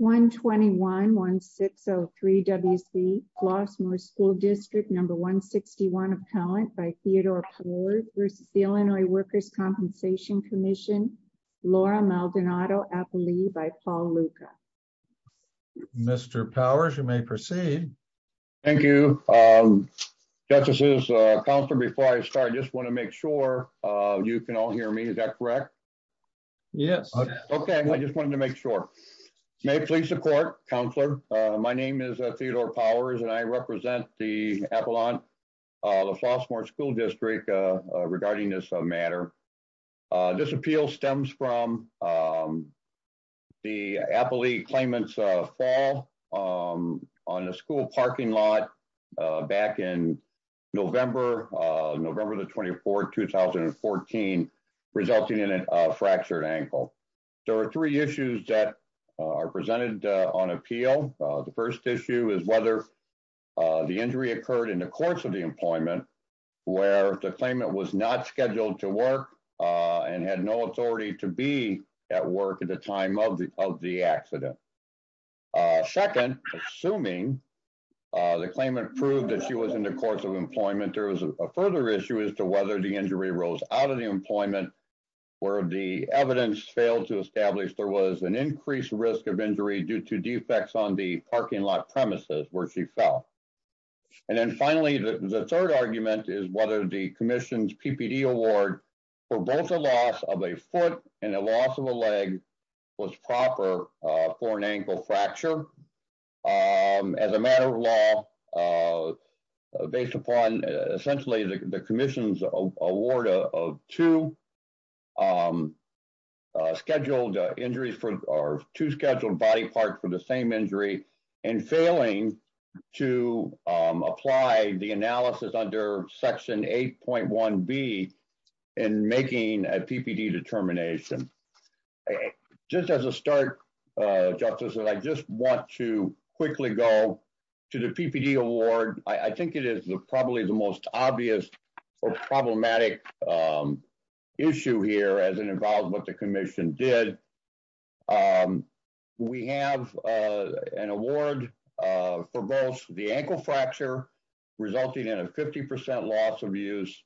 121-1603 W.C. Flossmoor School District 161 Appellant v. Illinois Workers' Compensation Comm'n Laura Maldonado-Appley v. Paul Luca Mr. Powers, you may proceed. Thank you. Justices, Counselor, before I start, I just want to make sure you can all hear me. Is that correct? Yes. Okay, I just wanted to make sure. May it please the Court, Counselor, my name is Theodore Powers and I represent the Appellant, the Flossmoor School District regarding this matter. This appeal stems from the Appley claimant's fall on a school parking lot back in November, November the 24th, 2014, resulting in a fractured ankle. There are three issues that are presented on appeal. The first issue is whether the injury occurred in the course of the employment where the claimant was not scheduled to work and had no authority to be at work at the time of the accident. Second, assuming the claimant proved that she was in the course of employment, there is a further issue as to whether the injury rose out of the employment where the evidence failed to establish there was an increased risk of injury due to defects on the parking lot premises where she fell. And then finally, the third argument is the Commission's PPD award for both a loss of a foot and a loss of a leg was proper for an ankle fracture. As a matter of law, based upon essentially the Commission's award of two scheduled injuries or two scheduled body parts for the same injury and failing to apply the analysis under Section 8.1B in making a PPD determination. Just as a start, Justice, I just want to quickly go to the PPD award. I think it is probably the most obvious or problematic issue here as it involves what the Commission did. We have an award for both the ankle fracture resulting in a 50% loss of use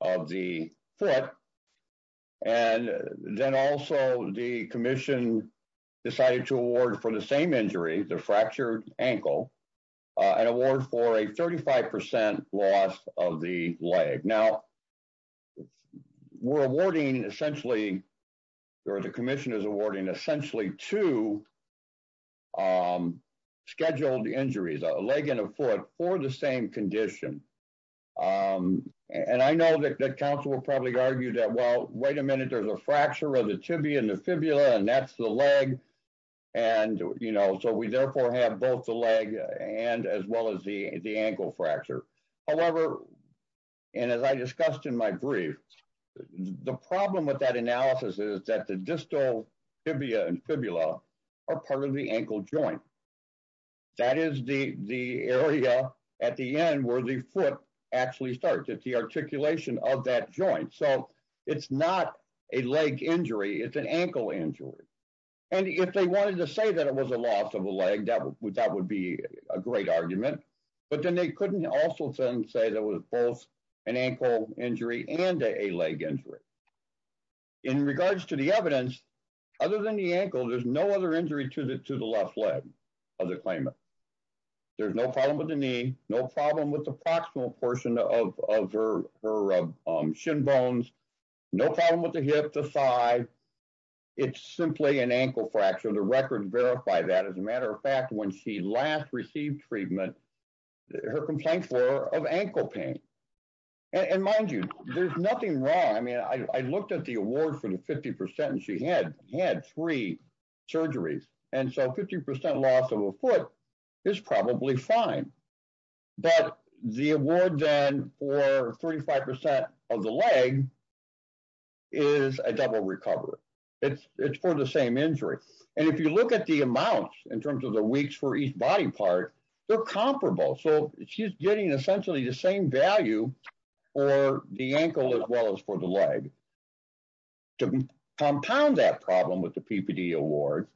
of the foot and then also the Commission decided to award for the same injury, the fractured ankle, an award for a 35% loss of the leg. Now, we're awarding essentially or the Commission is awarding essentially two scheduled injuries, a leg and a foot for the same condition. And I know that counsel will probably argue that, well, wait a minute, there's a fracture of the tibia and the fibula and that's the leg. And, you know, so we therefore have both the leg and as well as the ankle fracture. However, and as I discussed in my brief, the problem with that analysis is that the distal tibia and fibula are part of the ankle joint. That is the area at the end where the foot actually starts. It's the articulation of that joint. So it's not a leg injury, it's an ankle injury. And if they wanted to say that it was a loss of a leg, that would be a great argument, but then they couldn't also then say that was both an ankle injury and a leg injury. In regards to the evidence, other than the ankle, there's no other injury to the left leg of the claimant. There's no problem with the knee, no problem with the proximal portion of her shin bones, no problem with the hip, the thigh. It's simply an ankle fracture. The records verify that as a matter of fact, when she last received treatment, her complaint for of ankle pain. And mind you, there's nothing wrong. I mean, I looked at the award for the 50% and she had three surgeries. And so 50% loss of a foot is probably fine. But the award then for 35% of the leg is a double recovery. It's for the same injury. And if you look at the amounts in terms of the each body part, they're comparable. So she's getting essentially the same value for the ankle as well as for the leg. To compound that problem with the PPD award,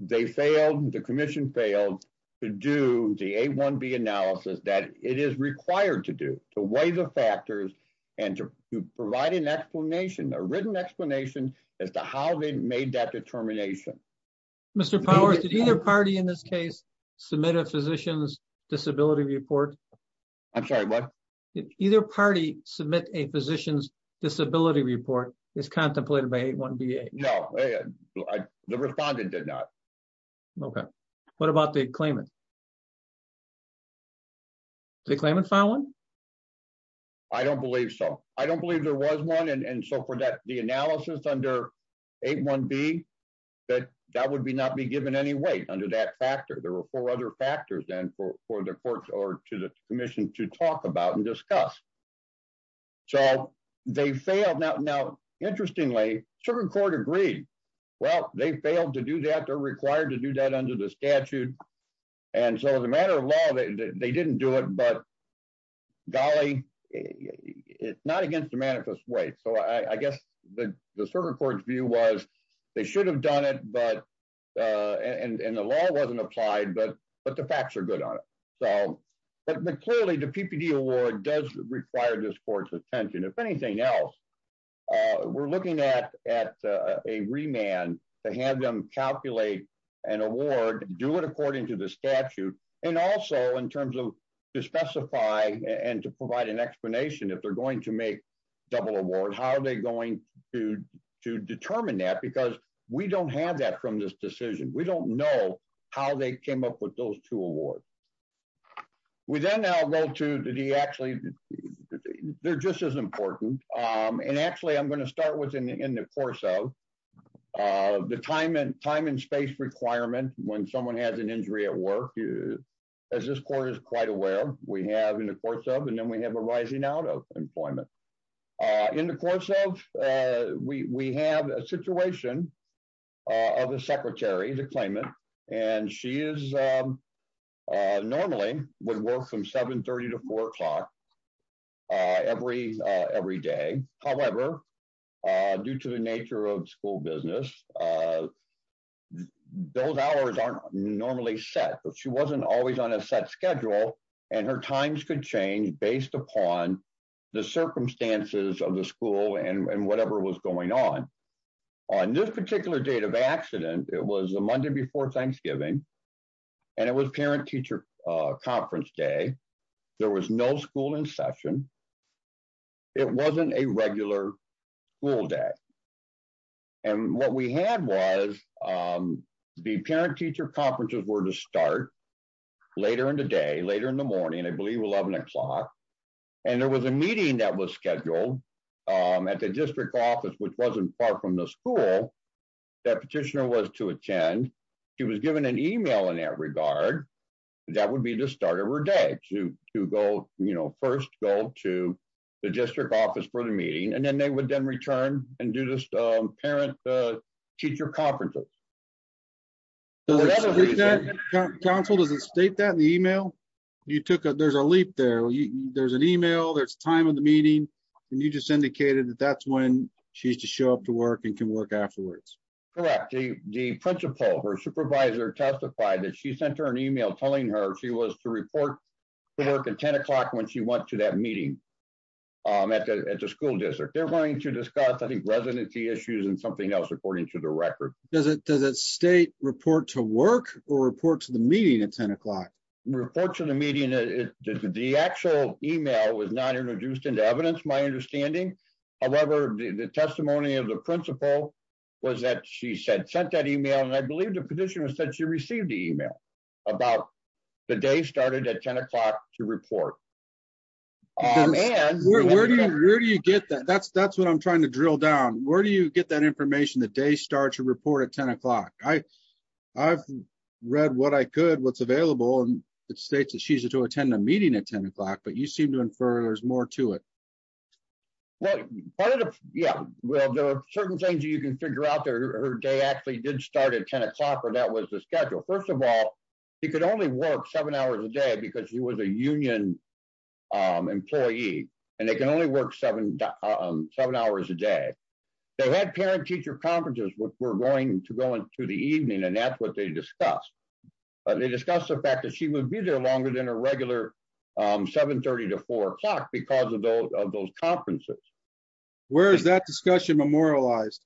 they failed, the commission failed to do the A1B analysis that it is required to do, to weigh the factors and to provide an explanation, a written explanation as to how they made that determination. Mr. Powers, did either party in this case submit a physician's disability report? I'm sorry, what? Either party submit a physician's disability report is contemplated by A1B. No, the respondent did not. Okay. What about the claimant? The claimant filed one? I don't believe so. I don't believe there was one. And so for that, the analysis under A1B, that would not be given any weight under that factor. There were four other factors then for the courts or to the commission to talk about and discuss. So they failed. Now, interestingly, Sugar Court agreed. Well, they failed to do that. They're required to do that under the statute. And so as a matter of law, they didn't do it. But golly, it's not against the manifest weight. So I guess the Sugar Court's view was they should have done it, and the law wasn't applied, but the facts are good on it. But clearly, the PPD award does require this court's attention. If anything else, we're looking at a remand to have them calculate an award, do it according to the statute, and also in terms of to specify and to provide an explanation if they're going to make double award, how are they going to determine that? Because we don't have that from this decision. We don't know how they came up with those two awards. We then now go to the actually, they're just as important. And actually, I'm going to start in the course of the time and space requirement when someone has an injury at work, as this court is quite aware, we have in the course of and then we have a rising out of employment. In the course of, we have a situation of a secretary to claim it. And she is a normally would work from 730 to four o'clock every day. However, due to the nature of school business, those hours aren't normally set, but she wasn't always on a set schedule. And her times could change based upon the circumstances of the school and whatever was going on. On this particular date of accident, it was a Monday before Thanksgiving. And it was parent teacher conference day, there was no school in session. It wasn't a regular school day. And what we had was the parent teacher conferences were to start later in the day later in the morning, I believe 11 o'clock. And there was a meeting that was from the school that petitioner was to attend, he was given an email in that regard, that would be the start of her day to go, you know, first go to the district office for the meeting, and then they would then return and do this parent teacher conferences. Council doesn't state that in the email, you took it, there's a leap there, there's an email, there's time of the meeting. And you just indicated that that's when she's to show up to work and can work afterwards. Correctly, the principal or supervisor testified that she sent her an email telling her she was to report to work at 10 o'clock when she went to that meeting at the school district, they're going to discuss I think residency issues and something else according to the record. Does it does it state report to work or report to the meeting at 10 o'clock? Report to the meeting, the actual email was not introduced into evidence, my understanding. However, the testimony of the principal was that she said sent that email and I believe the petitioner said she received the email about the day started at 10 o'clock to report. And where do you get that? That's that's what I'm trying to drill down. Where do you get that information that day starts to report at 10 o'clock? I I've read what I could what's available and it states that she's to attend a meeting at 10 o'clock but you seem to infer there's more to it. Yeah, well there are certain things you can figure out there. Her day actually did start at 10 o'clock or that was the schedule. First of all, he could only work seven hours a day because he was a union employee and they can only work seven seven hours a day. They had parent teacher conferences which were going to go into the evening and that's what they discussed. They discussed the fact that she would be there longer than a regular 7 30 to 4 o'clock because of those of those conferences. Where is that discussion memorialized?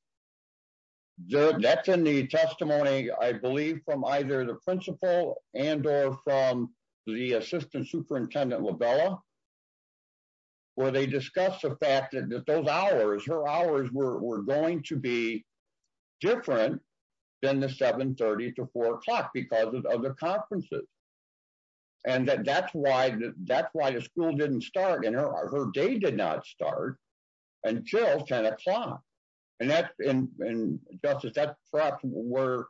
That's in the testimony I believe from either the principal and or from the assistant superintendent LaBella where they discussed the fact that those hours her hours were going to be different than the 7 30 to 4 o'clock because of other conferences. And that that's why that's why the school didn't start and her day did not start until 10 o'clock and that's in justice that's perhaps where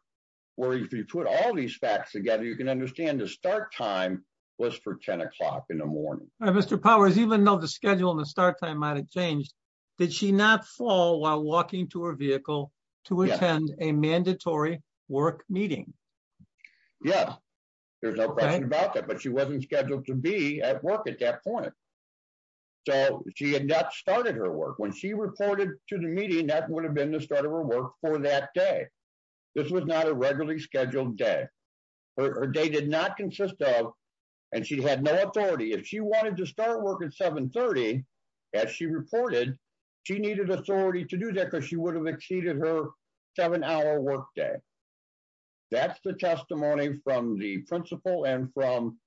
where if you put all these facts together you can understand the start time was for 10 o'clock in the morning. Mr. Powers even though the schedule and the start time might have changed did she not fall while walking to her a mandatory work meeting? Yeah there's no question about that but she wasn't scheduled to be at work at that point. So she had not started her work when she reported to the meeting that would have been the start of her work for that day. This was not a regularly scheduled day. Her day did not consist of and she had no authority if she wanted to start work at 7 30 as she reported she needed authority to do that because she would have exceeded her seven hour work day. That's the testimony from the principal and from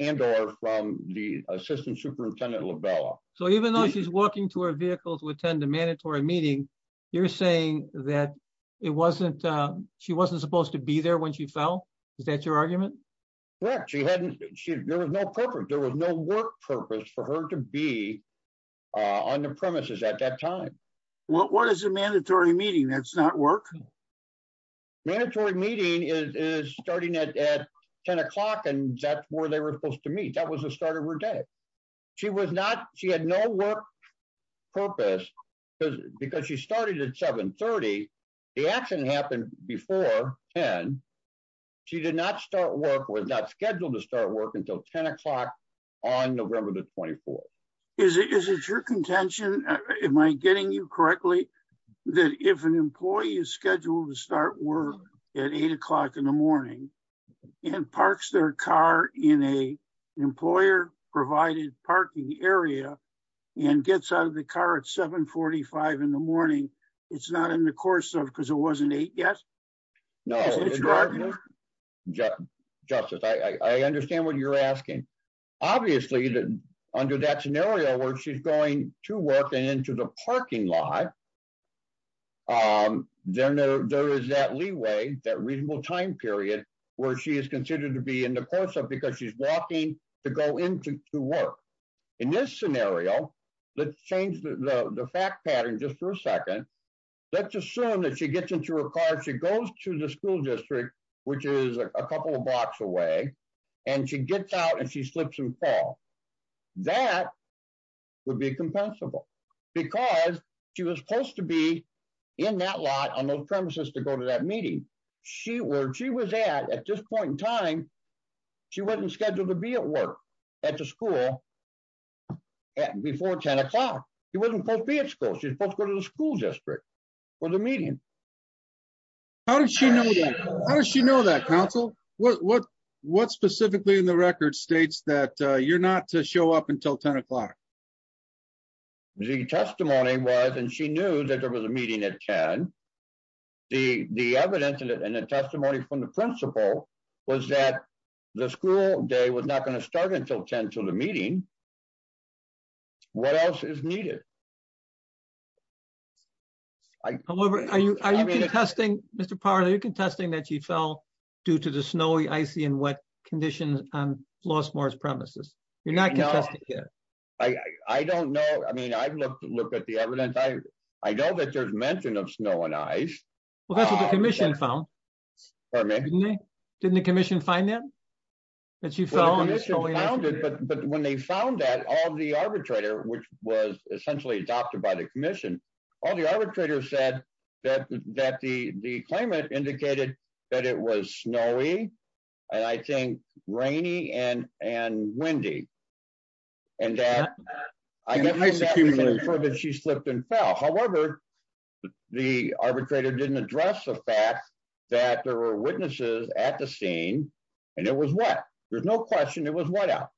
and or from the assistant superintendent LaBella. So even though she's walking to her vehicle to attend a mandatory meeting you're saying that it wasn't she wasn't supposed to be there when she fell? Is that your argument? Correct she hadn't she there was no there was no work purpose for her to be on the premises at that time. What is a mandatory meeting that's not work? Mandatory meeting is starting at 10 o'clock and that's where they were supposed to meet. That was the start of her day. She was not she had no work purpose because because she started at 7 30. The accident happened before 10. She did not start work was not scheduled to start work until 10 o'clock on November the 24th. Is it is it your contention am I getting you correctly that if an employee is scheduled to start work at eight o'clock in the morning and parks their car in a employer provided parking area and gets out of the car at 7 45 in the morning it's not in the you're asking. Obviously that under that scenario where she's going to work and into the parking lot um then there is that leeway that reasonable time period where she is considered to be in the course of because she's walking to go into to work. In this scenario let's change the the fact pattern just for a second. Let's assume that she gets into her car she goes to the school and she gets out and she slips and fall. That would be compensable because she was supposed to be in that lot on those premises to go to that meeting. She was at at this point in time she wasn't scheduled to be at work at the school before 10 o'clock. She wasn't supposed to be at school. She's supposed to go to the school district for the meeting. How did she know that? Counsel what what what specifically in the record states that uh you're not to show up until 10 o'clock? The testimony was and she knew that there was a meeting at 10. The the evidence and the testimony from the principal was that the school day was not going to start until 10 till the meeting. What else is needed? I don't know. I don't know. I mean I've looked at the evidence. I I know that there's mention of snow and ice. Well that's what the commission found. Pardon me? Didn't the commission find that that you fell? The commission found it but but when they found that all the arbitrator which adopted by the commission all the arbitrators said that that the the claimant indicated that it was snowy and I think rainy and and windy and that I guess she slipped and fell. However, the arbitrator didn't address the fact that there were witnesses at the scene and it was wet. There's no question it was wet out.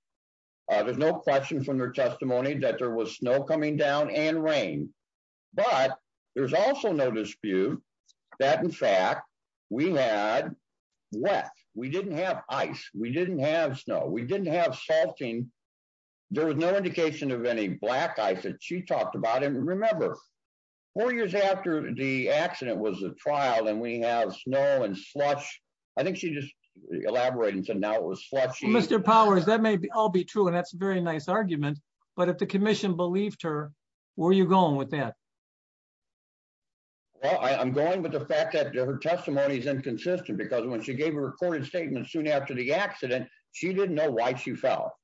Uh there's no question from their testimony that there was coming down and rain but there's also no dispute that in fact we had wet. We didn't have ice. We didn't have snow. We didn't have salting. There was no indication of any black ice that she talked about and remember four years after the accident was a trial and we have snow and slush. I think she just elaborating so now it was slushy. Mr. Powers that may all be true and that's a very argument but if the commission believed her where are you going with that? Well I'm going with the fact that her testimony is inconsistent because when she gave a recorded statement soon after the accident she didn't know why she fell.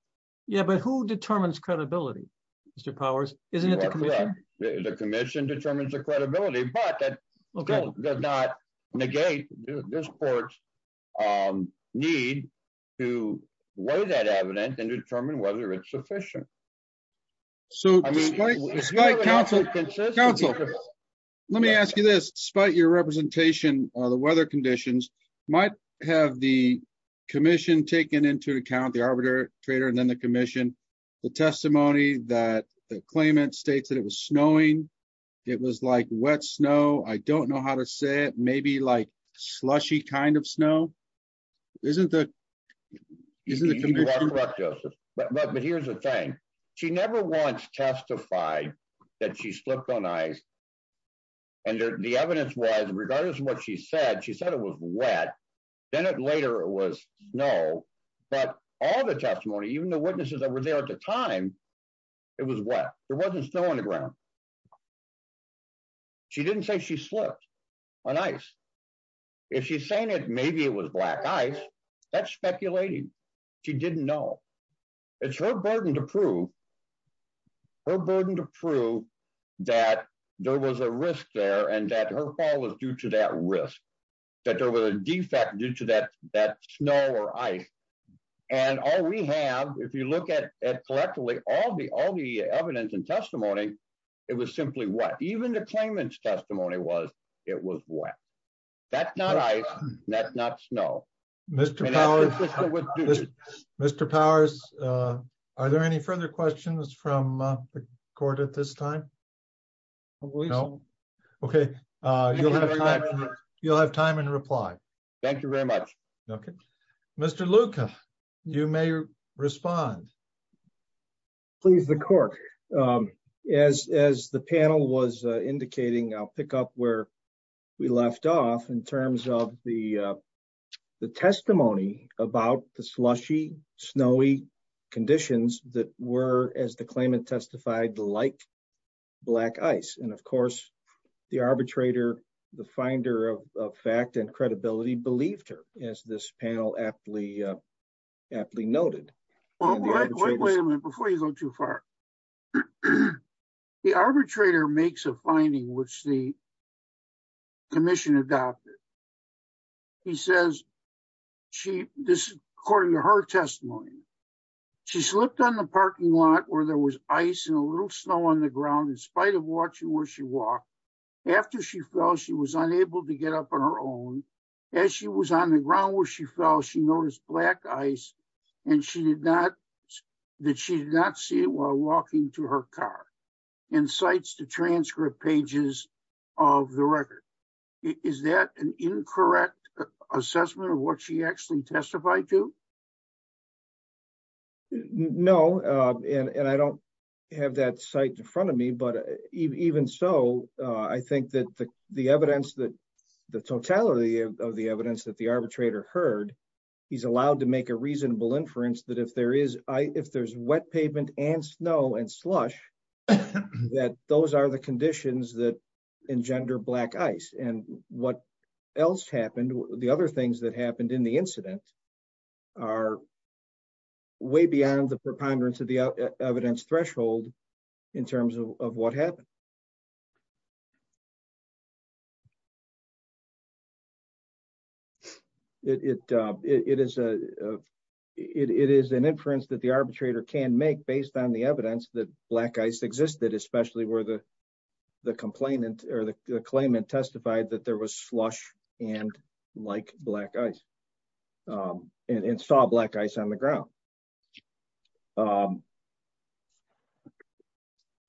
Yeah but who determines credibility Mr. Powers? Isn't it the commission? The commission determines the credibility but that does not negate this court's need to weigh that evidence and determine whether it's sufficient. So despite counsel let me ask you this despite your representation or the weather conditions might have the commission taken into account the arbitrator and then the commission the testimony that the claimant states that it was snowing. It was like wet snow. I don't know how to say it maybe like slushy kind of snow. Isn't that isn't it? But here's the thing she never once testified that she slipped on ice and the evidence was regardless of what she said she said it was wet then it later it was snow but all the testimony even the witnesses that were there at the time it was wet. There wasn't snow on the ground. She didn't say she slipped on ice. If she's saying it maybe it was black ice that's speculating. She didn't know. It's her burden to prove her burden to prove that there was a risk there and that her fall was due to that risk that there was a defect due to that that snow or ice and all we have if you look at collectively all the all the evidence and testimony it was simply wet. Even the claimant's testimony was it was wet. That's not ice. That's not snow. Mr. Powers are there any further questions from the court at this time? No. Okay. You'll have time and reply. Thank you very much. Okay. Mr. Luca you may respond. Please the court as as the panel was indicating I'll pick up where we left off in terms of the the testimony about the slushy snowy conditions that were as the claimant testified like black ice and of course the arbitrator the finder of fact and credibility believed her as this panel aptly aptly noted. Wait a minute before you go too far. The arbitrator makes a finding which the commission adopted. He says she this according to her testimony she slipped on the parking lot where there was ice and a little snow on the ground in was unable to get up on her own. As she was on the ground where she fell she noticed black ice and she did not that she did not see it while walking to her car and cites the transcript pages of the record. Is that an incorrect assessment of what she actually testified to? No and and I don't have that cite in front of me but even so I think that the evidence that the totality of the evidence that the arbitrator heard he's allowed to make a reasonable inference that if there is I if there's wet pavement and snow and slush that those are the conditions that engender black ice and what else happened the other things that happened in the incident are way beyond the preponderance of the evidence threshold in terms of what happened. It it it is a it it is an inference that the arbitrator can make based on the evidence that black ice existed especially where the the complainant or the claimant testified that was slush and like black ice and saw black ice on the ground.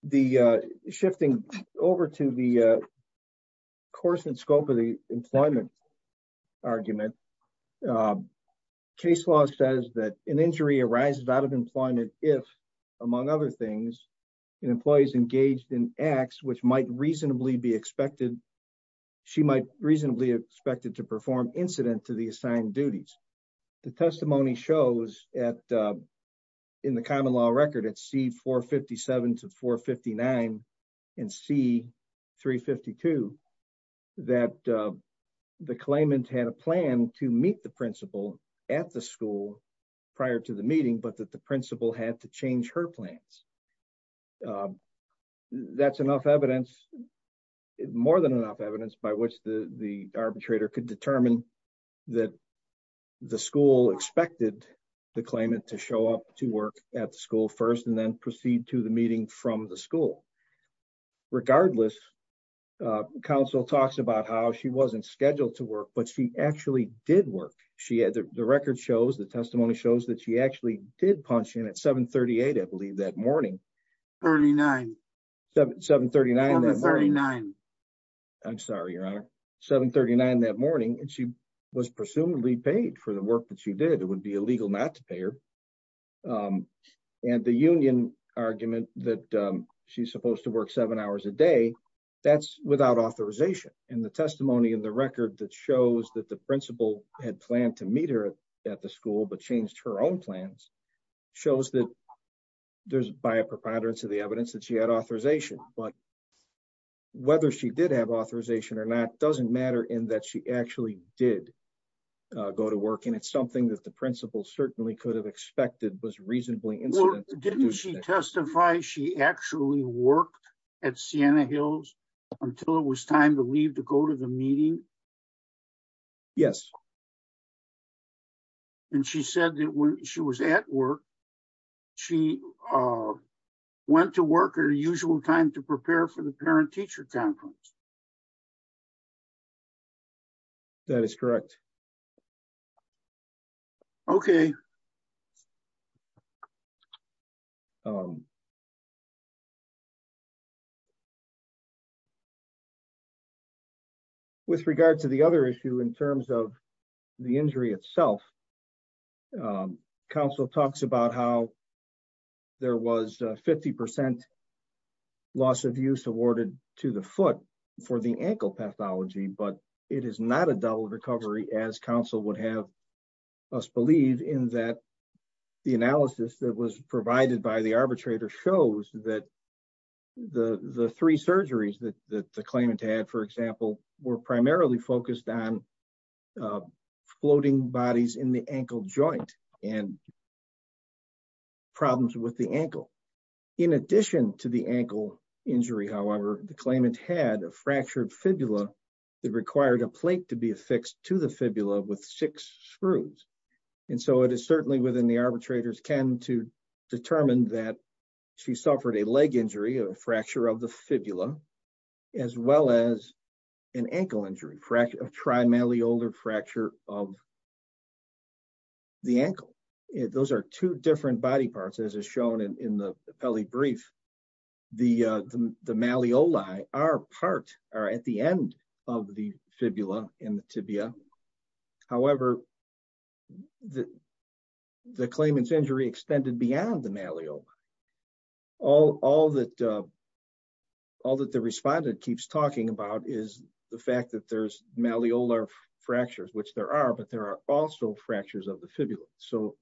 The shifting over to the course and scope of the employment argument case law says that an injury arises out of employment if among other things an employee is engaged in acts which might reasonably be expected she might reasonably expected to perform incident to the assigned duties. The testimony shows at in the common law record at c 457 to 459 and c 352 that the claimant had a plan to meet the principal at the school prior to the meeting but that the evidence more than enough evidence by which the the arbitrator could determine that the school expected the claimant to show up to work at the school first and then proceed to the meeting from the school. Regardless council talks about how she wasn't scheduled to work but she actually did work she had the record shows the testimony shows that she actually did punch in at 7 38 I believe that early 9 7 7 39 39 I'm sorry your honor 7 39 that morning and she was presumably paid for the work that she did it would be illegal not to pay her and the union argument that she's supposed to work seven hours a day that's without authorization and the testimony in the record that shows that the principal had planned to meet her at the school but changed her own plans shows that there's by a preponderance of the evidence that she had authorization but whether she did have authorization or not doesn't matter in that she actually did go to work and it's something that the principal certainly could have expected was reasonably incident didn't she testify she actually worked at sienna hills until it was time to leave to go to the meeting yes and she said that when she was at work she uh went to work at a usual time to prepare for the parent-teacher conference that is correct okay um um with regard to the other issue in terms of the injury itself council talks about how there was 50 loss of use awarded to the foot for the ankle pathology but it is not a double recovery as council would have us believe in that the analysis that was provided by the arbitrator shows that the the three surgeries that the claimant had for example were primarily focused on floating bodies in the ankle joint and problems with the ankle in addition to the ankle injury however the claimant had a fractured fibula that required a plate to be affixed to the fibula with six screws and so it is certainly within the arbitrator's ken to determine that she suffered a leg injury of a fracture of the fibula as well as an ankle injury fracture of trimalleolar fracture of the ankle those are two different body parts as is shown in the pele brief the uh the malleoli are part are at the end of the fibula in the tibia however the the claimant's injury extended beyond the malleolus all all that uh all that the respondent keeps talking about is the fact that there's malleolar fractures which there are but there also fractures of the fibula so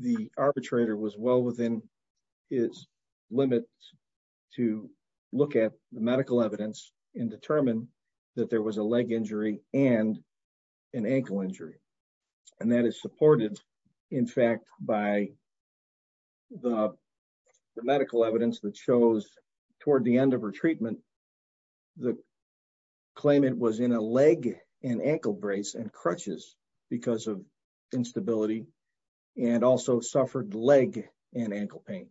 the arbitrator was well within his limit to look at the medical evidence and determine that there was a leg injury and an ankle injury and that is supported in fact by the medical evidence that shows toward the end of her treatment the claimant was in a leg and ankle brace and crutches because of instability and also suffered leg and ankle pain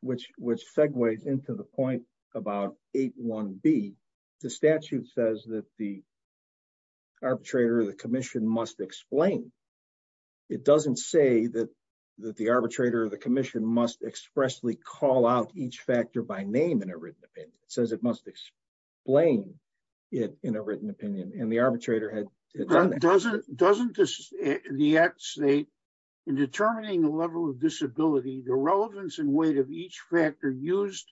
which which segues into the point about 8 1 b the statute says that the arbitrator of the commission must explain it doesn't say that that the arbitrator of the commission must expressly call out each factor by name in a written opinion it says it must explain it in a written opinion and the arbitrator had done that doesn't doesn't this the act state in determining the level of disability the relevance and weight of each factor used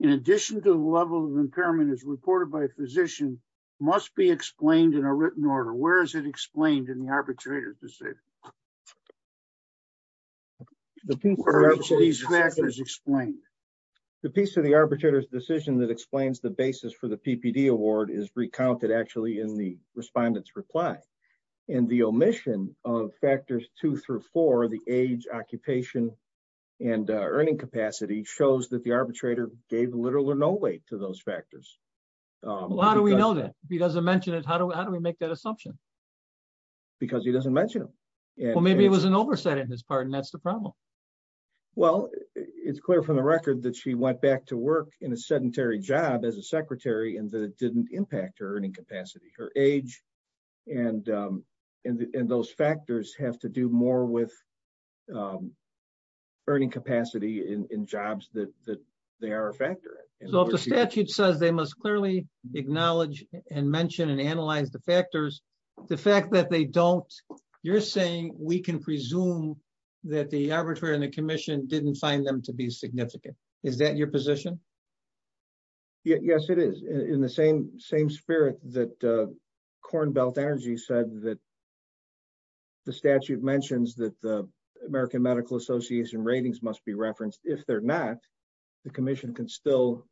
in addition to the level of impairment as reported by a physician must be explained in a written order where is it explained in the the piece of the arbitrator's decision that explains the basis for the ppd award is recounted actually in the respondent's reply and the omission of factors two through four the age occupation and earning capacity shows that the arbitrator gave literal or no weight to those factors well how do we know that if he doesn't mention it how do we how do we make that assumption because he doesn't mention him well maybe it was an oversight in his part and that's the problem well it's clear from the record that she went back to work in a sedentary job as a secretary and that it didn't impact her earning capacity her age and um and those factors have to do more with um earning capacity in in jobs that that they are a factor so if the statute says they must clearly acknowledge and mention and analyze the factors the fact that they don't you're saying we can presume that the arbitrator and the commission didn't find them to be significant is that your position yes it is in the same same spirit that uh corn belt energy said that the statute mentions that the american medical association ratings must be referenced if they're not the commission can still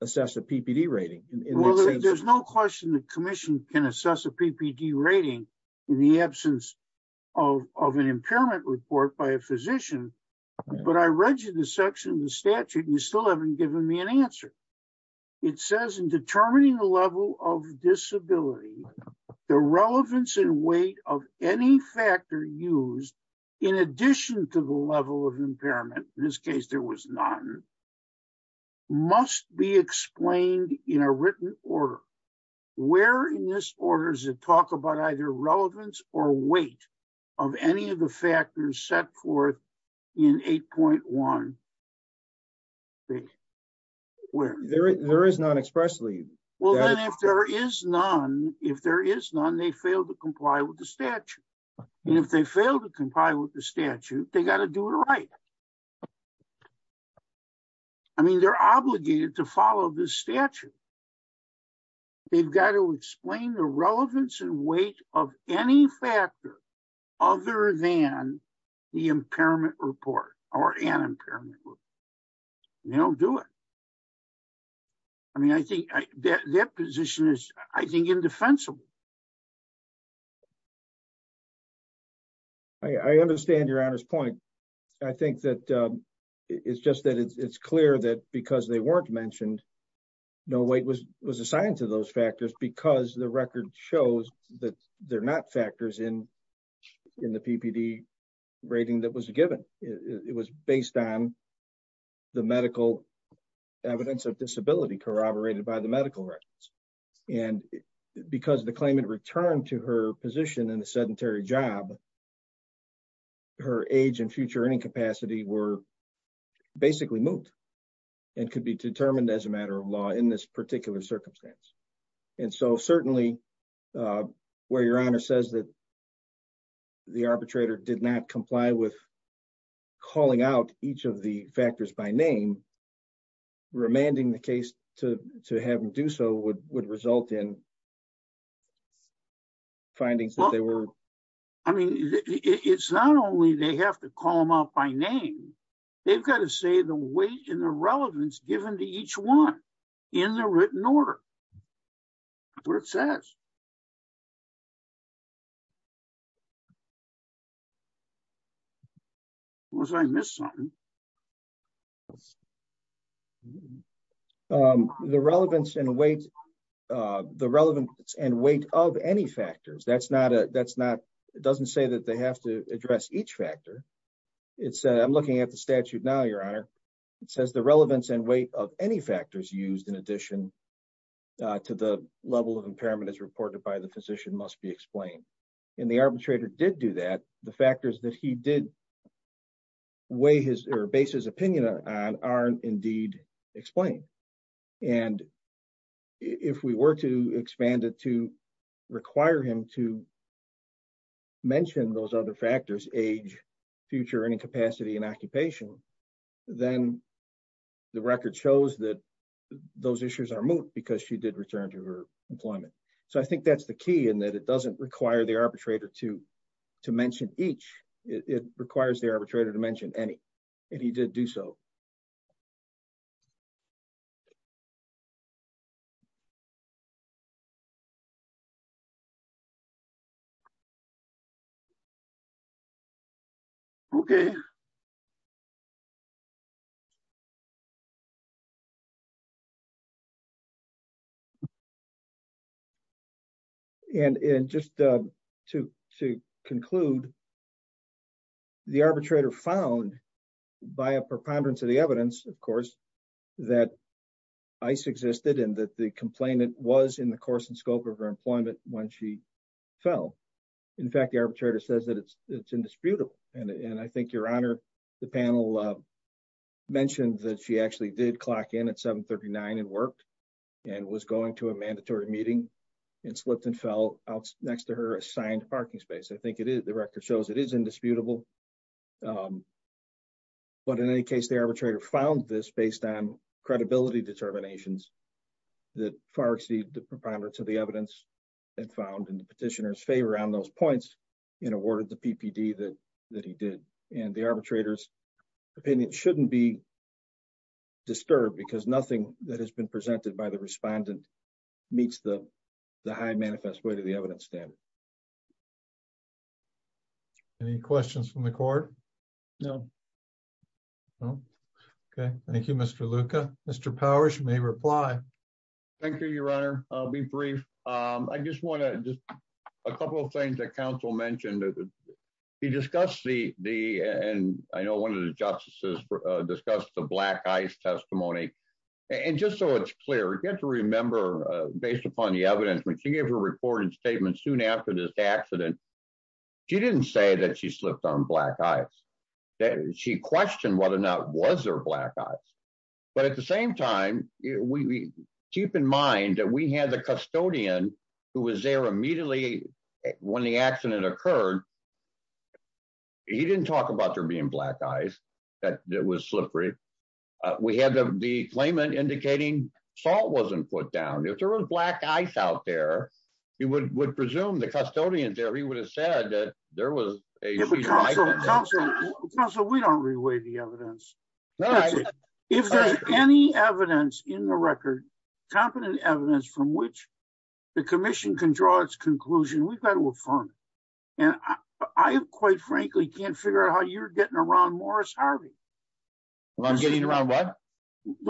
assess a ppd rating there's no question the commission can assess a ppd rating in the an impairment report by a physician but i read you the section of the statute you still haven't given me an answer it says in determining the level of disability the relevance and weight of any factor used in addition to the level of impairment in this case there was none must be explained in a written order where in this order is it talk about either relevance or weight of any of the factors set forth in 8.1 where there is none expressly well then if there is none if there is none they fail to comply with the statute and if they fail to comply with the statute they got to do it right i mean they're obligated to follow this statute they've got to explain the relevance and weight of any factor other than the impairment report or an impairment you don't do it i mean i think that that position is i think indefensible i i understand your honor's point i think that um it's just that it's clear that because they mentioned no weight was was assigned to those factors because the record shows that they're not factors in in the ppd rating that was given it was based on the medical evidence of disability corroborated by the medical records and because the claimant returned to her position in a law in this particular circumstance and so certainly uh where your honor says that the arbitrator did not comply with calling out each of the factors by name remanding the case to to have them do so would would result in findings that they were i mean it's not only they have to call them out by name they've got to say the weight and the relevance given to each one in the written order what it says was i missed something um the relevance and weight uh the relevance and weight of any factors that's not a that's not it doesn't say that they have to address each factor it said i'm looking at the statute now your honor it says the relevance and weight of any factors used in addition to the level of impairment as reported by the physician must be explained and the arbitrator did do that the factors that he did weigh his or base his opinion on are indeed explained and if we were to expand it to require him to mention those other factors age future incapacity and occupation then the record shows that those issues are moot because she did return to her employment so i think that's the key and that it doesn't require the arbitrator to to mention each it requires the arbitrator to mention any and he did do so okay and and just uh to to conclude the arbitrator found by a preponderance of the evidence of course that ice existed and that the complainant was in the course and scope of her employment when she fell in fact the arbitrator says that it's it's indisputable and and i think your honor the panel uh mentioned that she actually did clock in at 7 39 and worked and was going to a mandatory meeting and slipped and fell out next to her assigned parking space i think it is the record shows it is indisputable um but in any case the arbitrator found this based on credibility determinations that far exceed the preponderance of the evidence and found in the petitioner's favor around those points and awarded the ppd that that he did and the arbitrator's opinion shouldn't be disturbed because nothing that has been presented by the respondent meets the the high manifest way to the evidence standard okay any questions from the court no no okay thank you mr luca mr powers may reply thank you your honor i'll be brief um i just want to just a couple of things that council mentioned he discussed the the and i know one of the justices discussed the black ice testimony and just so it's clear you have to remember uh based upon the evidence when she gave her reporting statement soon after this accident she didn't say that she slipped on black ice she questioned whether or not was there black eyes but at the same time we keep in mind that we had the custodian who was there immediately when the accident occurred he didn't talk about there being black eyes that it was slippery uh we had the the claimant indicating salt wasn't put down if there was black ice out there he would would presume the custodian there he would have said that there was a council we don't reweigh the evidence if there's any evidence in the record competent evidence from which the commission can draw its conclusion we've got to affirm and i quite frankly can't figure out how you're getting around morris harvey i'm getting the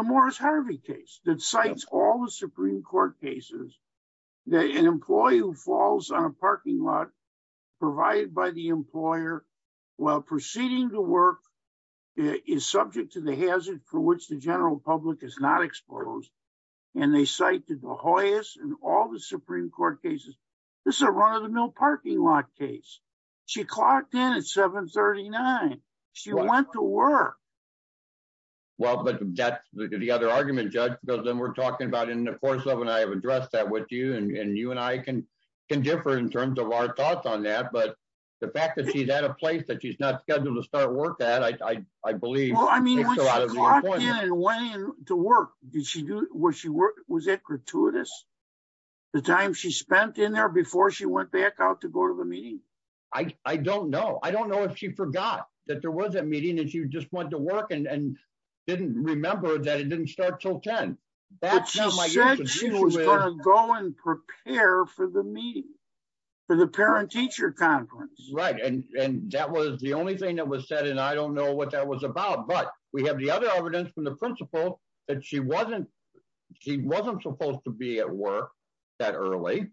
morris harvey case that cites all the supreme court cases that an employee who falls on a parking lot provided by the employer while proceeding to work is subject to the hazard for which the general public is not exposed and they cite the de hoyas and all the supreme court cases this is a run-of-the-mill parking lot case she clocked in at 7 39 she went to work well but that's the other argument judge because then we're talking about in the course of and i have addressed that with you and you and i can can differ in terms of our thoughts on that but the fact that she's at a place that she's not scheduled to start work at i i believe to work did she do was she work was it gratuitous the time she spent in there before she went back out to go to the meeting i i don't know i don't know if she forgot that there was a meeting that just went to work and and didn't remember that it didn't start till 10 that's go and prepare for the meeting for the parent teacher conference right and and that was the only thing that was said and i don't know what that was about but we have the other evidence from the principal that she wasn't she wasn't supposed to be at work that early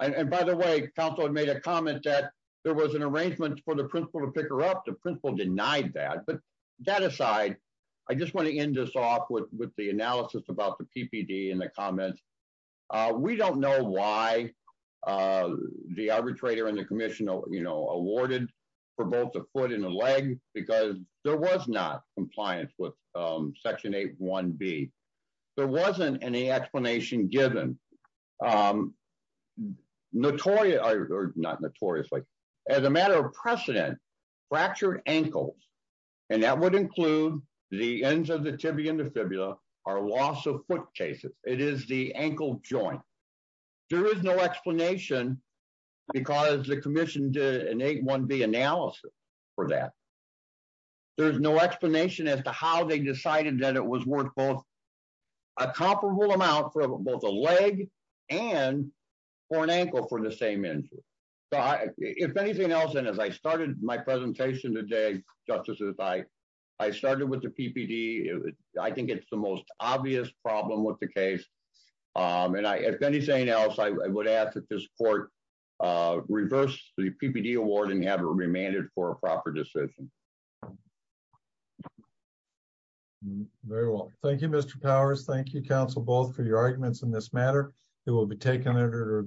and by the way counsel had made a comment that there was an arrangement for the principal to pick her up principal denied that but that aside i just want to end this off with with the analysis about the ppd in the comments uh we don't know why uh the arbitrator and the commission you know awarded for both a foot and a leg because there was not compliance with um section 8 1b there wasn't any ankles and that would include the ends of the tibia and the fibula or loss of foot cases it is the ankle joint there is no explanation because the commission did an 8 1b analysis for that there's no explanation as to how they decided that it was worth both a comparable amount for both a leg and for an ankle for the same injury so i if anything else and as i started my presentation today justices i i started with the ppd i think it's the most obvious problem with the case um and i if anything else i would ask that this court uh reverse the ppd award and have it remanded for a proper decision very well thank you mr powers thank you counsel both for your arguments in this matter it will be taken under